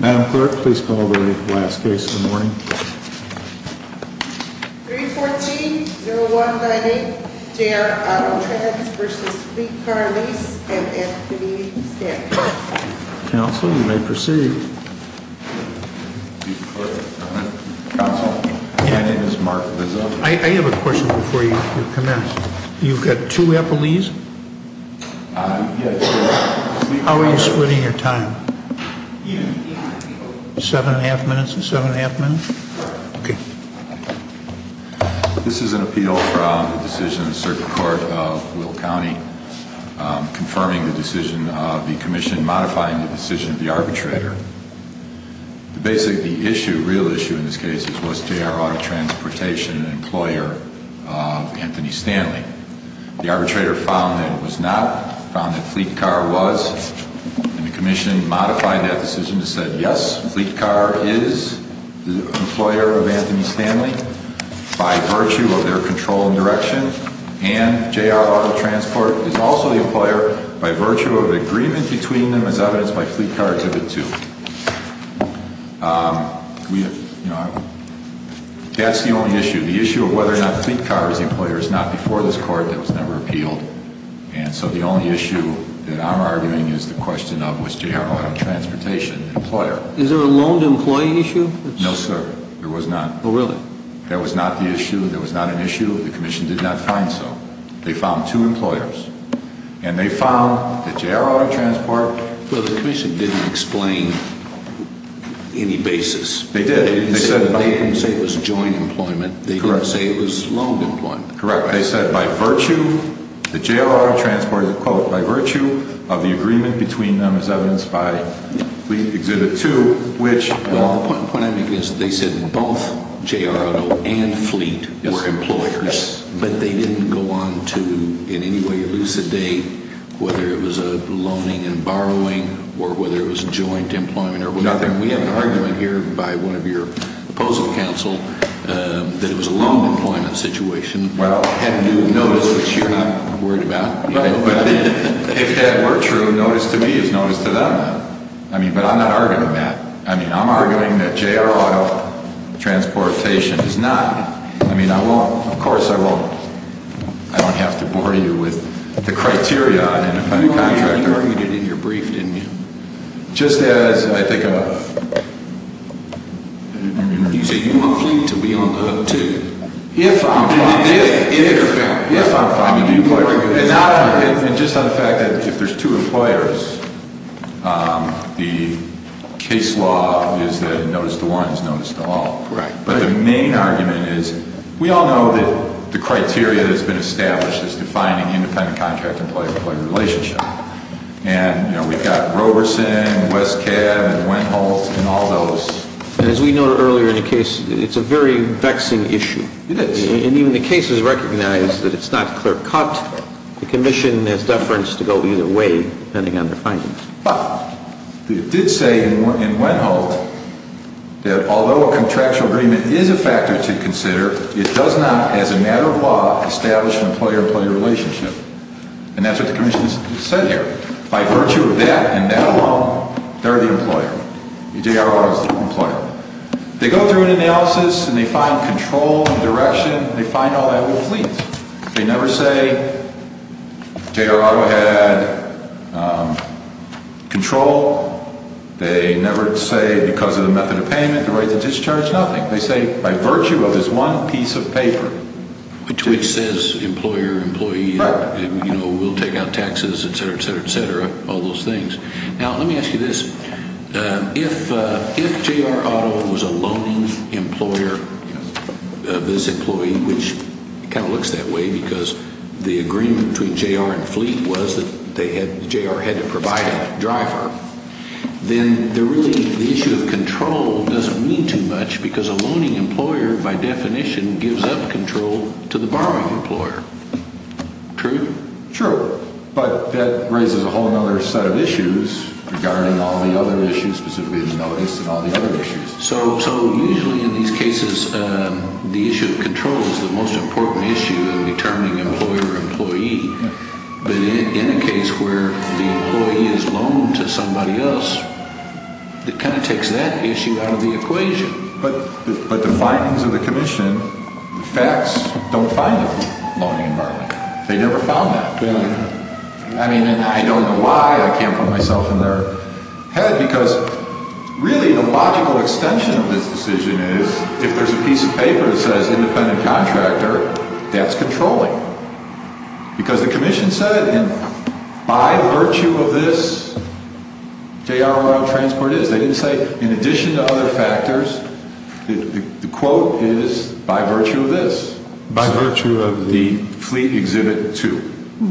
Madam Clerk, please call the ready for the last case of the morning. 314-0198, J.R. Auto Transportation v. Sweet Car Lease, and Anthony Stanton. Counsel, you may proceed. Counsel, my name is Mark Lizzo. I have a question before you commence. You've got two Eppleys? Yes, sir. How are you splitting your time? Seven and a half minutes. Okay. This is an appeal from the decision of the Circuit Court of Will County, confirming the decision of the Commission, modifying the decision of the arbitrator. Basically, the issue, real issue in this case, was J.R. Auto Transportation, an employer of Anthony Stanley. The arbitrator found that it was not, found that Sweet Car was, and the Commission modified that decision to say, yes, Sweet Car is the employer of Anthony Stanley by virtue of their control and direction, and J.R. Auto Transport is also the employer by virtue of the agreement between them as evidenced by Sweet Car Exhibit 2. That's the only issue. The issue of whether or not Sweet Car is the employer is not before this Court. That was never appealed. And so the only issue that I'm arguing is the question of was J.R. Auto Transportation the employer. Is there a loan to employee issue? No, sir. There was not. Oh, really? That was not the issue. That was not an issue. The Commission did not find so. They found two employers, and they found that J.R. Auto Transport Well, the Commission didn't explain any basis. They did. They didn't say it was joint employment. Correct. They didn't say it was loan employment. Correct. They said by virtue, the J.R. Auto Transport, quote, by virtue of the agreement between them as evidenced by Fleet Exhibit 2, which Well, the point I'm making is they said both J.R. Auto and Fleet were employers, but they didn't go on to in any way elucidate whether it was a loaning and borrowing or whether it was joint employment or whatever. Nothing. We have an argument here by one of your opposing counsel that it was a loan employment situation. Well, had you noticed, which you're not worried about. If that were true, notice to me is notice to them. But I'm not arguing that. I'm arguing that J.R. Auto Transportation is not. I mean, I won't. Of course I won't. I don't have to bore you with the criteria on an independent contractor. You argued it in your brief, didn't you? Just as I think of You say you want Fleet to be on the hook, too. If I'm finding the employer And just on the fact that if there's two employers, the case law is that notice to one is notice to all. But the main argument is we all know that the criteria that has been established is defining independent contractor-employee-employee relationship. And, you know, we've got Roberson and Westcab and Wendholz and all those. And as we noted earlier in the case, it's a very vexing issue. It is. And even the case has recognized that it's not clear-cut. The commission has deference to go either way, depending on their findings. But it did say in Wendholz that although a contractual agreement is a factor to consider, it does not, as a matter of law, establish an employer-employee relationship. And that's what the commission has said here. By virtue of that and that alone, they're the employer. J.R. Auto is the employer. They go through an analysis and they find control and direction. They find all that with leads. They never say J.R. Auto had control. They never say because of the method of payment, the right to discharge, nothing. They say by virtue of this one piece of paper. Which says employer-employee, you know, we'll take out taxes, et cetera, et cetera, et cetera, all those things. Now, let me ask you this. If J.R. Auto was a loaning employer of this employee, which kind of looks that way because the agreement between J.R. and Fleet was that J.R. had to provide a driver, then really the issue of control doesn't mean too much because a loaning employer, by definition, gives up control to the borrowing employer. True? True. But that raises a whole other set of issues regarding all the other issues, specifically the notice and all the other issues. So usually in these cases, the issue of control is the most important issue in determining employer-employee. But in a case where the employee is loaned to somebody else, it kind of takes that issue out of the equation. But the findings of the commission, the facts don't find the loaning environment. They never found that. I mean, and I don't know why I can't put myself in their head because really the logical extension of this decision is if there's a piece of paper that says independent contractor, that's controlling. Because the commission said by virtue of this, J.R. Royal Transport is. They didn't say in addition to other factors, the quote is by virtue of this. By virtue of the Fleet Exhibit 2,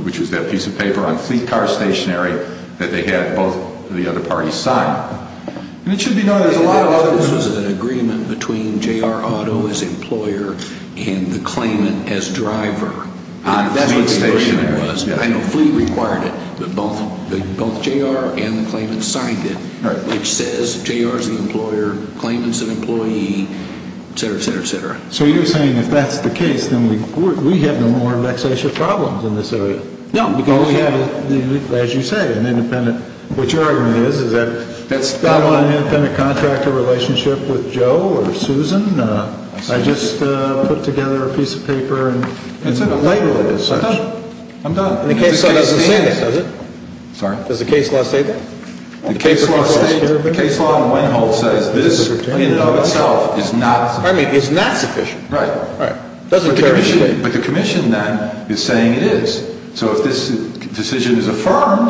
which was that piece of paper on fleet car stationary that they had both the other parties sign. And it should be noted there's a lot of other. This was an agreement between J.R. Auto as employer and the claimant as driver. That's what the agreement was. I know fleet required it, but both J.R. and the claimant signed it, which says J.R. is the employer, claimant's an employee, et cetera, et cetera, et cetera. So you're saying if that's the case, then we have no more vexatious problems in this area. No, because we have, as you say, an independent. What your argument is, is that I don't want an independent contractor relationship with Joe or Susan. I just put together a piece of paper and labeled it as such. I'm done. The case law doesn't say that, does it? Sorry? Does the case law say that? The case law in itself is not sufficient. I mean, it's not sufficient. Right. Right. But the commission then is saying it is. So if this decision is affirmed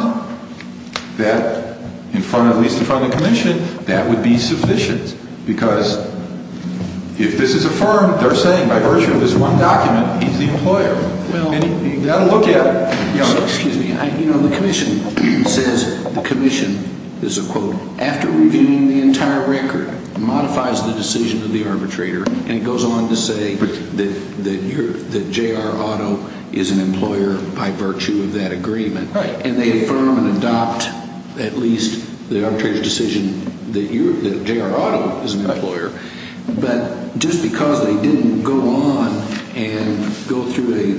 that in front of, at least in front of the commission, that would be sufficient. Because if this is affirmed, they're saying by virtue of this one document he's the employer. And you've got to look at it. Excuse me. You know, the commission says, the commission, this is a quote, after reviewing the entire record, modifies the decision of the arbitrator. And it goes on to say that J.R. Otto is an employer by virtue of that agreement. And they affirm and adopt at least the arbitrator's decision that J.R. Otto is an employer. But just because they didn't go on and go through a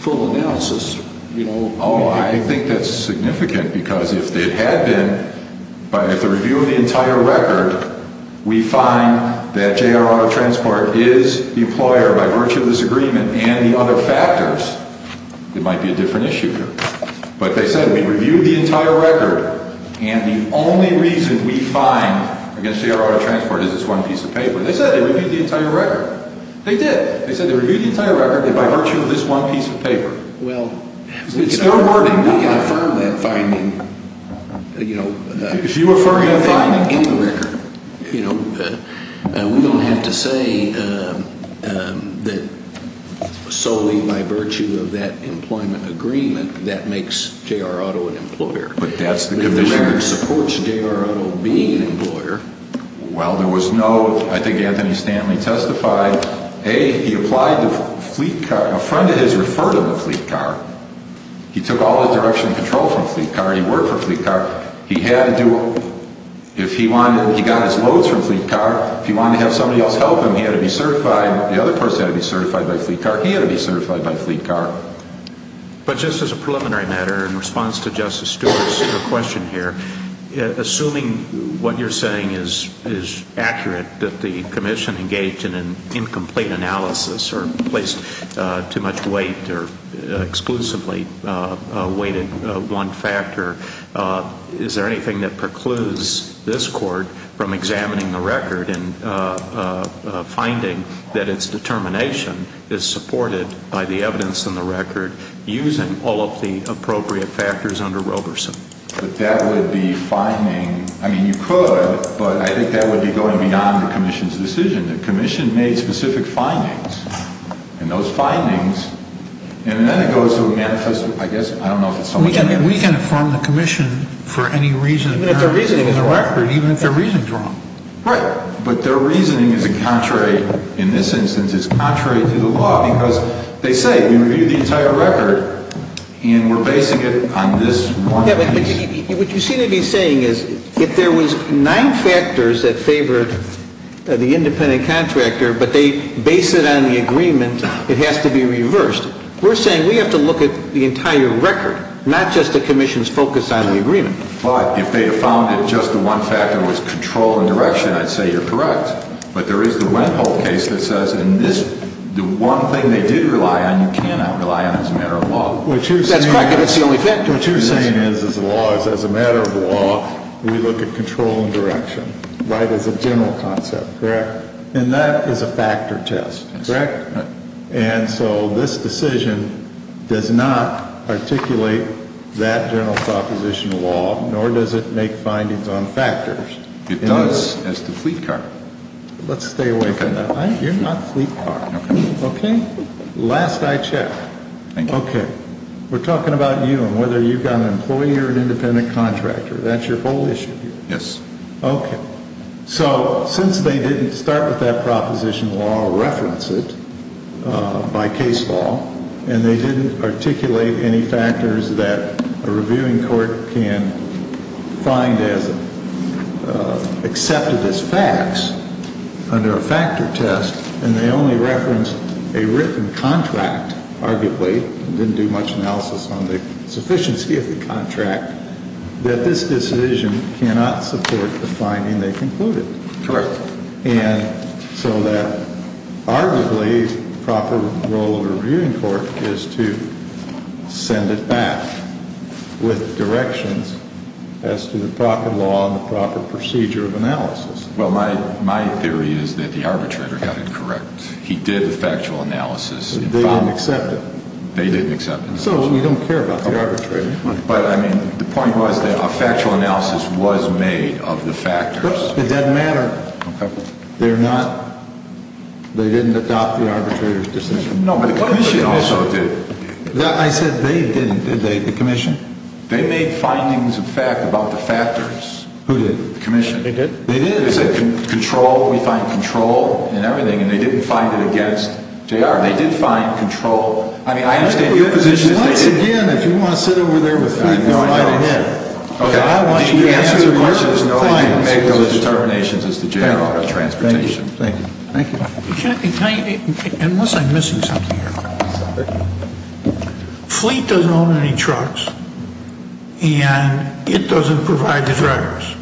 full analysis, you know. Oh, I think that's significant. Because if it had been by the review of the entire record, we find that J.R. Otto Transport is the employer by virtue of this agreement and the other factors, it might be a different issue here. But they said, we reviewed the entire record, and the only reason we find against J.R. Otto Transport is this one piece of paper. They said they reviewed the entire record. They did. They said they reviewed the entire record by virtue of this one piece of paper. Well. It's their wording. We can affirm that finding. You know. If you affirm that finding. You know. We don't have to say that solely by virtue of that employment agreement that makes J.R. Otto an employer. But that's the condition. The American supports J.R. Otto being an employer. Well, there was no. I think Anthony Stanley testified. A, he applied to Fleet Car. A friend of his referred him to Fleet Car. He took all the direction and control from Fleet Car. He worked for Fleet Car. He had to do. If he wanted. He got his loads from Fleet Car. If he wanted to have somebody else help him, he had to be certified. The other person had to be certified by Fleet Car. He had to be certified by Fleet Car. But just as a preliminary matter, in response to Justice Stewart's question here, assuming what you're saying is accurate, that the commission engaged in an incomplete analysis or placed too much weight or exclusively weighted one factor, is there anything that precludes this court from examining the record and finding that its determination is supported by the evidence in the record using all of the appropriate factors under Roberson? But that would be finding. I mean, you could. But I think that would be going beyond the commission's decision. The commission made specific findings. And those findings. And then it goes to manifest. I guess. I don't know if it's so much. We can affirm the commission for any reason. Even if their reasoning is wrong. Even if their reasoning is wrong. Right. But their reasoning is contrary in this instance. It's contrary to the law. Because they say we reviewed the entire record. And we're basing it on this one. But what you seem to be saying is if there was nine factors that favored the independent contractor, but they base it on the agreement, it has to be reversed. We're saying we have to look at the entire record, not just the commission's focus on the agreement. But if they had found that just the one factor was control and direction, I'd say you're correct. But there is the Wethold case that says in this, the one thing they did rely on, you cannot rely on as a matter of law. That's correct, but it's the only factor. What you're saying is as a matter of law, we look at control and direction. Right? As a general concept. Correct. And that is a factor test. Correct? And so this decision does not articulate that general proposition of law, nor does it make findings on factors. It does as to Fleet Car. Let's stay away from that. You're not Fleet Car. Okay. Last I check. Thank you. Okay. We're talking about you and whether you've got an employee or an independent contractor. That's your whole issue here. Yes. Okay. So since they didn't start with that proposition of law or reference it by case law, and they didn't articulate any factors that a reviewing court can find as accepted as facts under a factor test, and they only referenced a written contract, arguably, and didn't do much analysis on the sufficiency of the contract, that this decision cannot support the finding they concluded. Correct. And so that arguably proper role of a reviewing court is to send it back with directions as to the proper law and the proper procedure of analysis. Well, my theory is that the arbitrator got it correct. He did the factual analysis. They didn't accept it. They didn't accept it. So we don't care about the arbitrator. But, I mean, the point was that a factual analysis was made of the factors. It doesn't matter. Okay. They didn't adopt the arbitrator's decision. No, but the commission also did. I said they didn't, did they, the commission? They made findings of fact about the factors. Who did? The commission. They did? They did. They said control, we find control in everything, and they didn't find it against JR. They did find control. I mean, I understand your position. Once again, if you want to sit over there with me, go right ahead. Okay. I want you to answer the questions. There's no need to make those determinations as to JR Auto Transportation. Thank you. Thank you. Unless I'm missing something here. Fleet doesn't own any trucks, and it doesn't provide the drivers.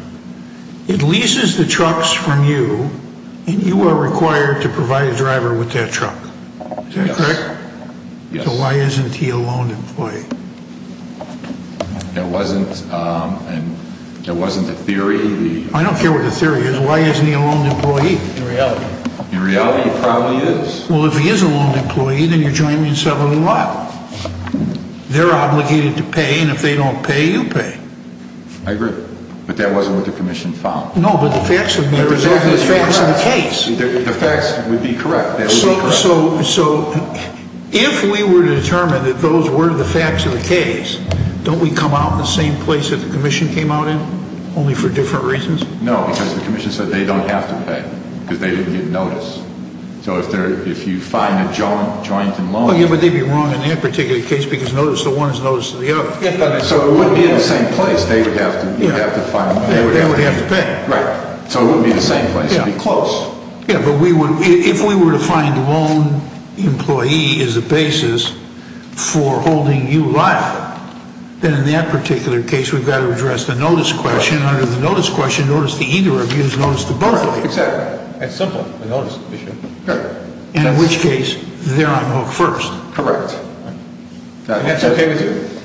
It leases the trucks from you, and you are required to provide a driver with that truck. Is that correct? Yes. So why isn't he a loaned employee? That wasn't the theory. I don't care what the theory is. Why isn't he a loaned employee? In reality. In reality, he probably is. Well, if he is a loaned employee, then you're joining me in settling a lot. They're obligated to pay, and if they don't pay, you pay. I agree, but that wasn't what the commission found. No, but the facts of the case. The facts would be correct. So if we were to determine that those were the facts of the case, don't we come out in the same place that the commission came out in, only for different reasons? No, because the commission said they don't have to pay because they didn't get notice. So if you find a joint in loan... But they'd be wrong in that particular case because notice to one is notice to the other. So it wouldn't be in the same place. They would have to pay. Right. So it wouldn't be in the same place. It would be close. Yeah, but if we were to find a loan employee as a basis for holding you liable, then in that particular case, we've got to address the notice question. Notice to either of you is notice to both of you. Exactly. That's simple, the notice issue. Correct. In which case, they're on the hook first. Correct. And that's okay with you?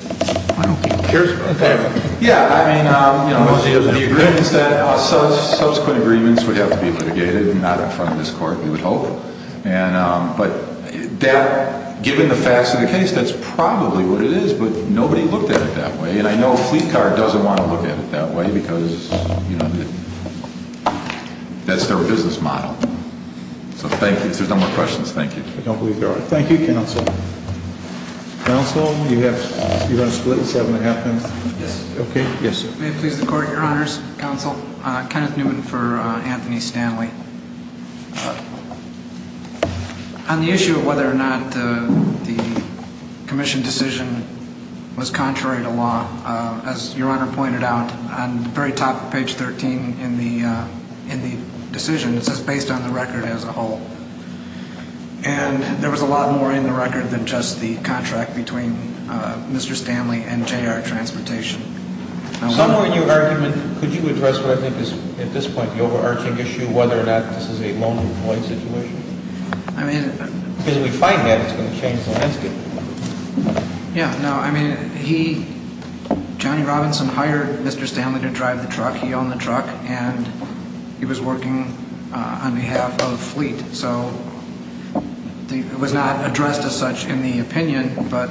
I don't think he cares about that. Yeah, I mean, you know, the agreement is that subsequent agreements would have to be litigated, not in front of this court, we would hope. But given the facts of the case, that's probably what it is, but nobody looked at it that way. And I know Fleet Car doesn't want to look at it that way because, you know, that's their business model. So thank you. If there's no more questions, thank you. I don't believe there are. Thank you, counsel. Counsel, you're going to split the seven and a half minutes? Yes. Okay. Yes, sir. May it please the court, your honors, counsel, Kenneth Newman for Anthony Stanley. On the issue of whether or not the commission decision was contrary to law, as your honor pointed out, on the very top of page 13 in the decision, it says based on the record as a whole. And there was a lot more in the record than just the contract between Mr. Stanley and J.R. Transportation. Somewhere in your argument, could you address what I think is, at this point, the overarching issue, whether or not this is a loan and avoid situation? Because if we find that, it's going to change the landscape. Yeah. No, I mean, he, Johnny Robinson hired Mr. Stanley to drive the truck. He owned the truck. And he was working on behalf of Fleet. So it was not addressed as such in the opinion, but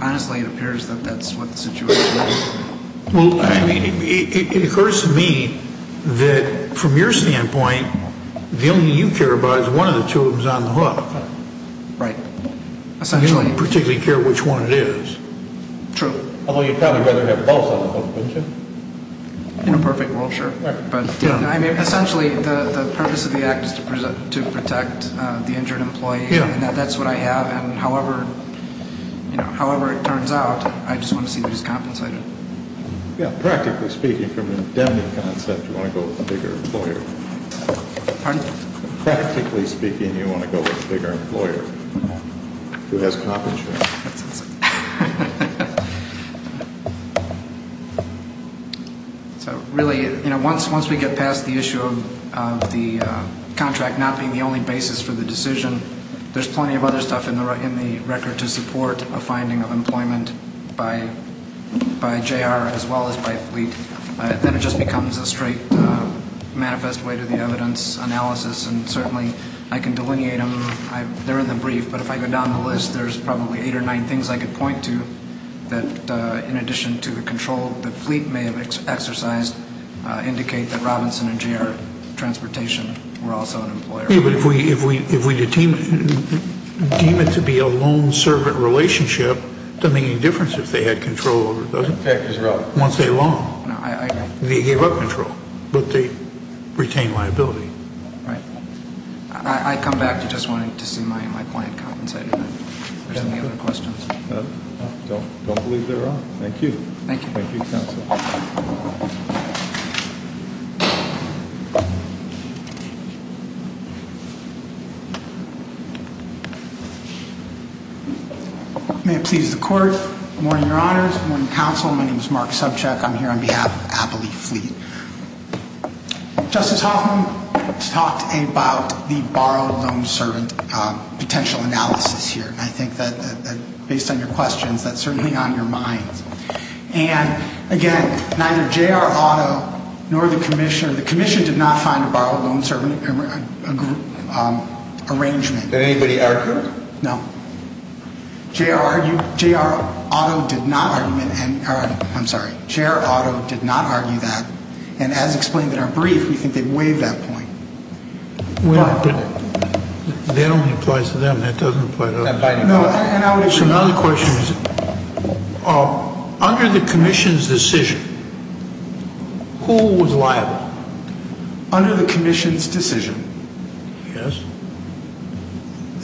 honestly, it appears that that's what the situation is. Well, I mean, it occurs to me that from your standpoint, the only thing you care about is one of the two of them is on the hook. Right. Essentially. You don't particularly care which one it is. True. Although you'd probably rather have both on the hook, wouldn't you? In a perfect world, sure. Right. To protect the injured employee. Yeah. And that's what I have. And however it turns out, I just want to see who's compensated. Yeah. Practically speaking, from an indemnity concept, you want to go with a bigger employer. Pardon? Practically speaking, you want to go with a bigger employer who has compensation. That's what I'm saying. So really, once we get past the issue of the contract not being the only basis for the decision, there's plenty of other stuff in the record to support a finding of employment by JR as well as by Fleet. Then it just becomes a straight manifest way to the evidence analysis, and certainly I can delineate them. They're in the brief, but if I go down the list, there's probably eight or nine things I could point to that, in addition to the control that Fleet may have exercised, indicate that Robinson and JR Transportation were also an employer. Yeah, but if we deem it to be a long-servant relationship, it doesn't make any difference if they had control over it, does it? That's right. Once they long, they gave up control, but they retained liability. Right. I come back to just wanting to see my client compensated. Are there any other questions? I don't believe there are. Thank you. Thank you, Counsel. May it please the Court. Good morning, Your Honors. Good morning, Counsel. My name is Mark Subcheck. I'm here on behalf of Abilene Fleet. Justice Hoffman talked about the borrowed-loan-servant potential analysis here. I think that, based on your questions, that's certainly on your minds. And, again, neither JR Auto nor the Commissioner, the Commission did not find a borrowed-loan-servant arrangement. Did anybody argue? No. JR Auto did not argue that. And, as explained in our brief, we think they waived that point. That only applies to them. That doesn't apply to us. No, and I would agree. Another question is, under the Commission's decision, who was liable? Under the Commission's decision? Yes.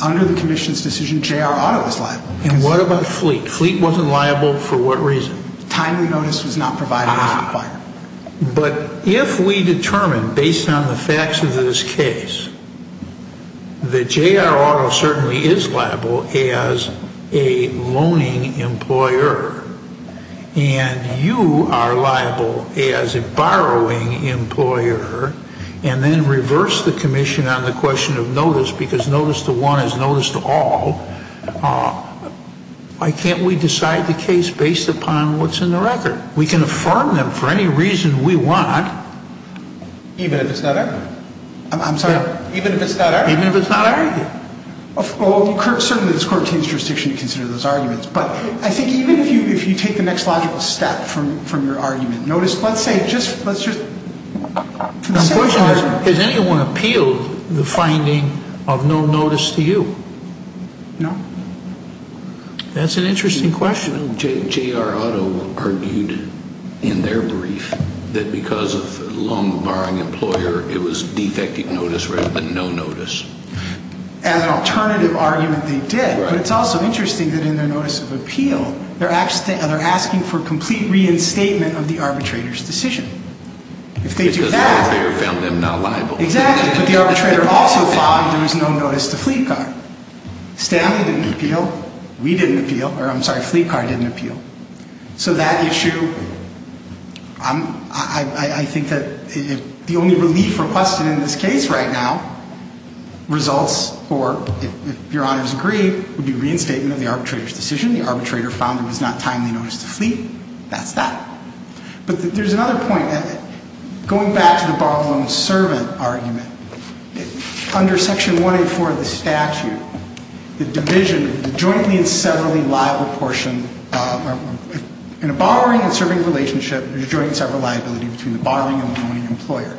Under the Commission's decision, JR Auto was liable. And what about Fleet? Fleet wasn't liable for what reason? Timely notice was not provided as required. But if we determine, based on the facts of this case, that JR Auto certainly is liable as a loaning employer, and you are liable as a borrowing employer, and then reverse the Commission on the question of notice, because notice to one is notice to all, why can't we decide the case based upon what's in the record? We can affirm them for any reason we want. Even if it's not our argument? I'm sorry? Even if it's not our argument? Even if it's not our argument. Well, certainly it's court-to-jurisdiction to consider those arguments. But I think even if you take the next logical step from your argument, notice, let's say, just for the sake of argument. Has anyone appealed the finding of no notice to you? No. That's an interesting question. Well, JR Auto argued in their brief that because of a loan-borrowing employer, it was defective notice rather than no notice. As an alternative argument, they did. But it's also interesting that in their notice of appeal, they're asking for complete reinstatement of the arbitrator's decision. If they do that… Because the lawyer found them not liable. Exactly. But the arbitrator also found there was no notice to Fleetcar. Stanley didn't appeal. We didn't appeal. Or, I'm sorry, Fleetcar didn't appeal. So that issue, I think that the only relief requested in this case right now, results for, if your honors agree, would be reinstatement of the arbitrator's decision. The arbitrator found there was not timely notice to Fleet. That's that. But there's another point. Going back to the borrow-and-loan-servant argument, under Section 184 of the statute, the division, the jointly and severally liable portion, in a borrowing and serving relationship, there's a joint and several liability between the borrowing and the loaning employer.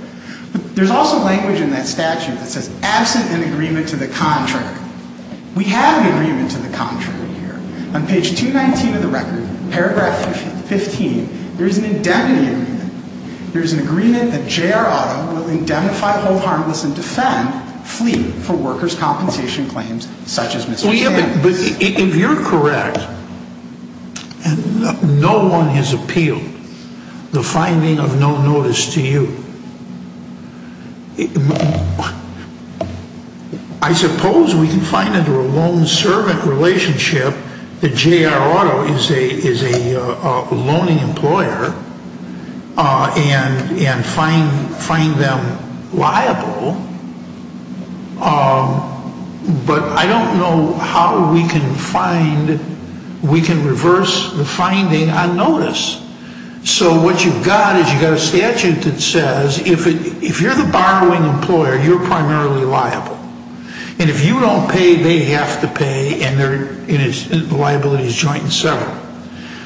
But there's also language in that statute that says, absent an agreement to the contrary. We have an agreement to the contrary here. On page 219 of the record, paragraph 15, there's an indemnity agreement. There's an agreement that J.R. Otto will indemnify, hold harmless, and defend Fleet for workers' compensation claims such as Mr. Sam's. If you're correct, and no one has appealed the finding of no notice to you, I suppose we can find under a loan-servant relationship that J.R. Otto is a loaning employer and find them liable, but I don't know how we can reverse the finding on notice. So what you've got is you've got a statute that says, if you're the borrowing employer, you're primarily liable. And if you don't pay, they have to pay, and the liability is joint and several.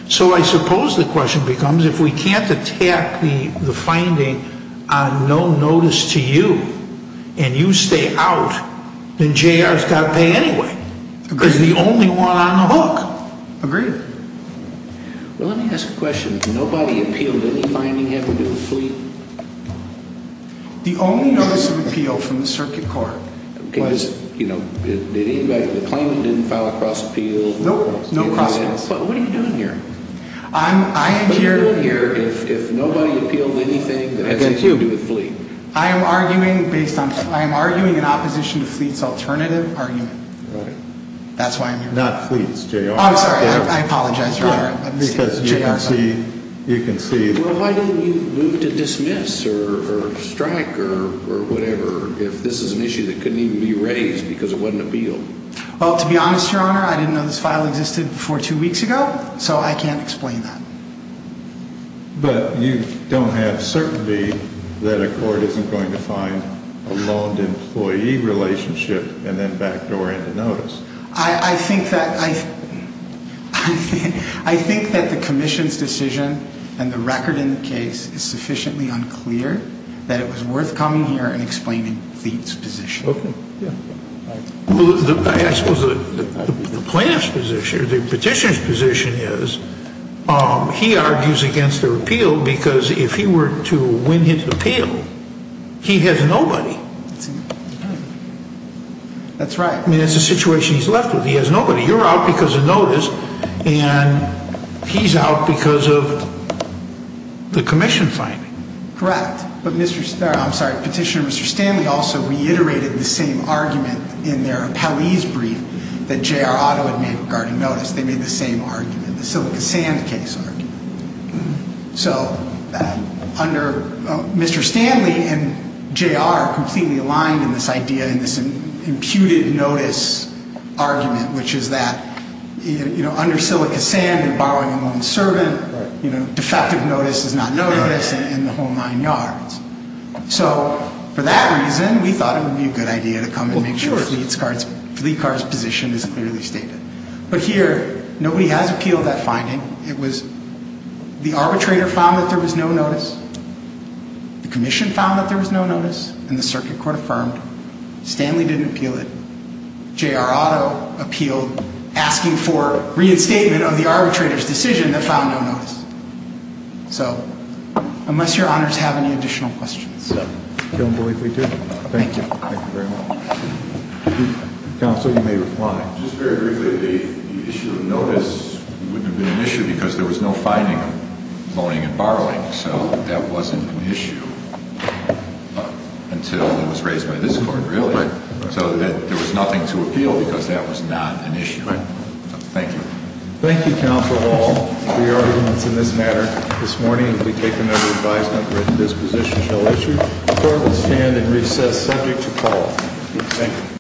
So I suppose the question becomes, if we can't attack the finding on no notice to you, and you stay out, then J.R. has got to pay anyway. Because he's the only one on the hook. Agreed. Well, let me ask a question. Nobody appealed any finding ever to the Fleet? The only notice of appeal from the circuit court was, you know, the claimant didn't file a cross-appeal? Nope, no cross-appeal. What are you doing here? I'm here... What are you doing here if nobody appealed anything that has anything to do with Fleet? I am arguing based on... I am arguing in opposition to Fleet's alternative argument. Right. That's why I'm here. Not Fleet. It's J.R. I'm sorry. I apologize, Your Honor. Because you can see... J.R., sorry. You can see... Well, why didn't you move to dismiss or strike or whatever if this is an issue that couldn't even be raised because it wasn't appealed? Well, to be honest, Your Honor, I didn't know this file existed before two weeks ago, so I can't explain that. But you don't have certainty that a court isn't going to find a loaned employee relationship and then backdoor into notice. I think that... I think that the commission's decision and the record in the case is sufficiently unclear that it was worth coming here and explaining Fleet's position. Okay. Yeah. I suppose the plaintiff's position or the petitioner's position is he argues against the repeal because if he were to win his appeal, he has nobody. That's right. I mean, that's the situation he's left with. He has nobody. You're out because of notice, and he's out because of the commission finding. Correct. But Petitioner Stanley also reiterated the same argument in their appellee's brief that J.R. Otto had made regarding notice. They made the same argument, the Silica Sand case argument. So Mr. Stanley and J.R. are completely aligned in this idea, in this imputed notice argument, which is that under Silica Sand and borrowing a loaned servant, you know, defective notice is not notice in the whole nine yards. So for that reason, we thought it would be a good idea to come and make sure Fleet's position is clearly stated. But here, nobody has appealed that finding. It was the arbitrator found that there was no notice. The commission found that there was no notice, and the circuit court affirmed. Stanley didn't appeal it. J.R. Otto appealed asking for reinstatement of the arbitrator's decision that found no notice. So unless your honors have any additional questions. I don't believe we do. Thank you. Thank you very much. Counsel, you may reply. Just very briefly, the issue of notice wouldn't have been an issue because there was no finding of loaning and borrowing. So that wasn't an issue until it was raised by this court, really. Right. So there was nothing to appeal because that was not an issue. Right. Thank you. Thank you, counsel, for all of your arguments in this matter. This morning, it will be taken under advisement that this position shall issue. The court will stand and recess subject to call. Thank you.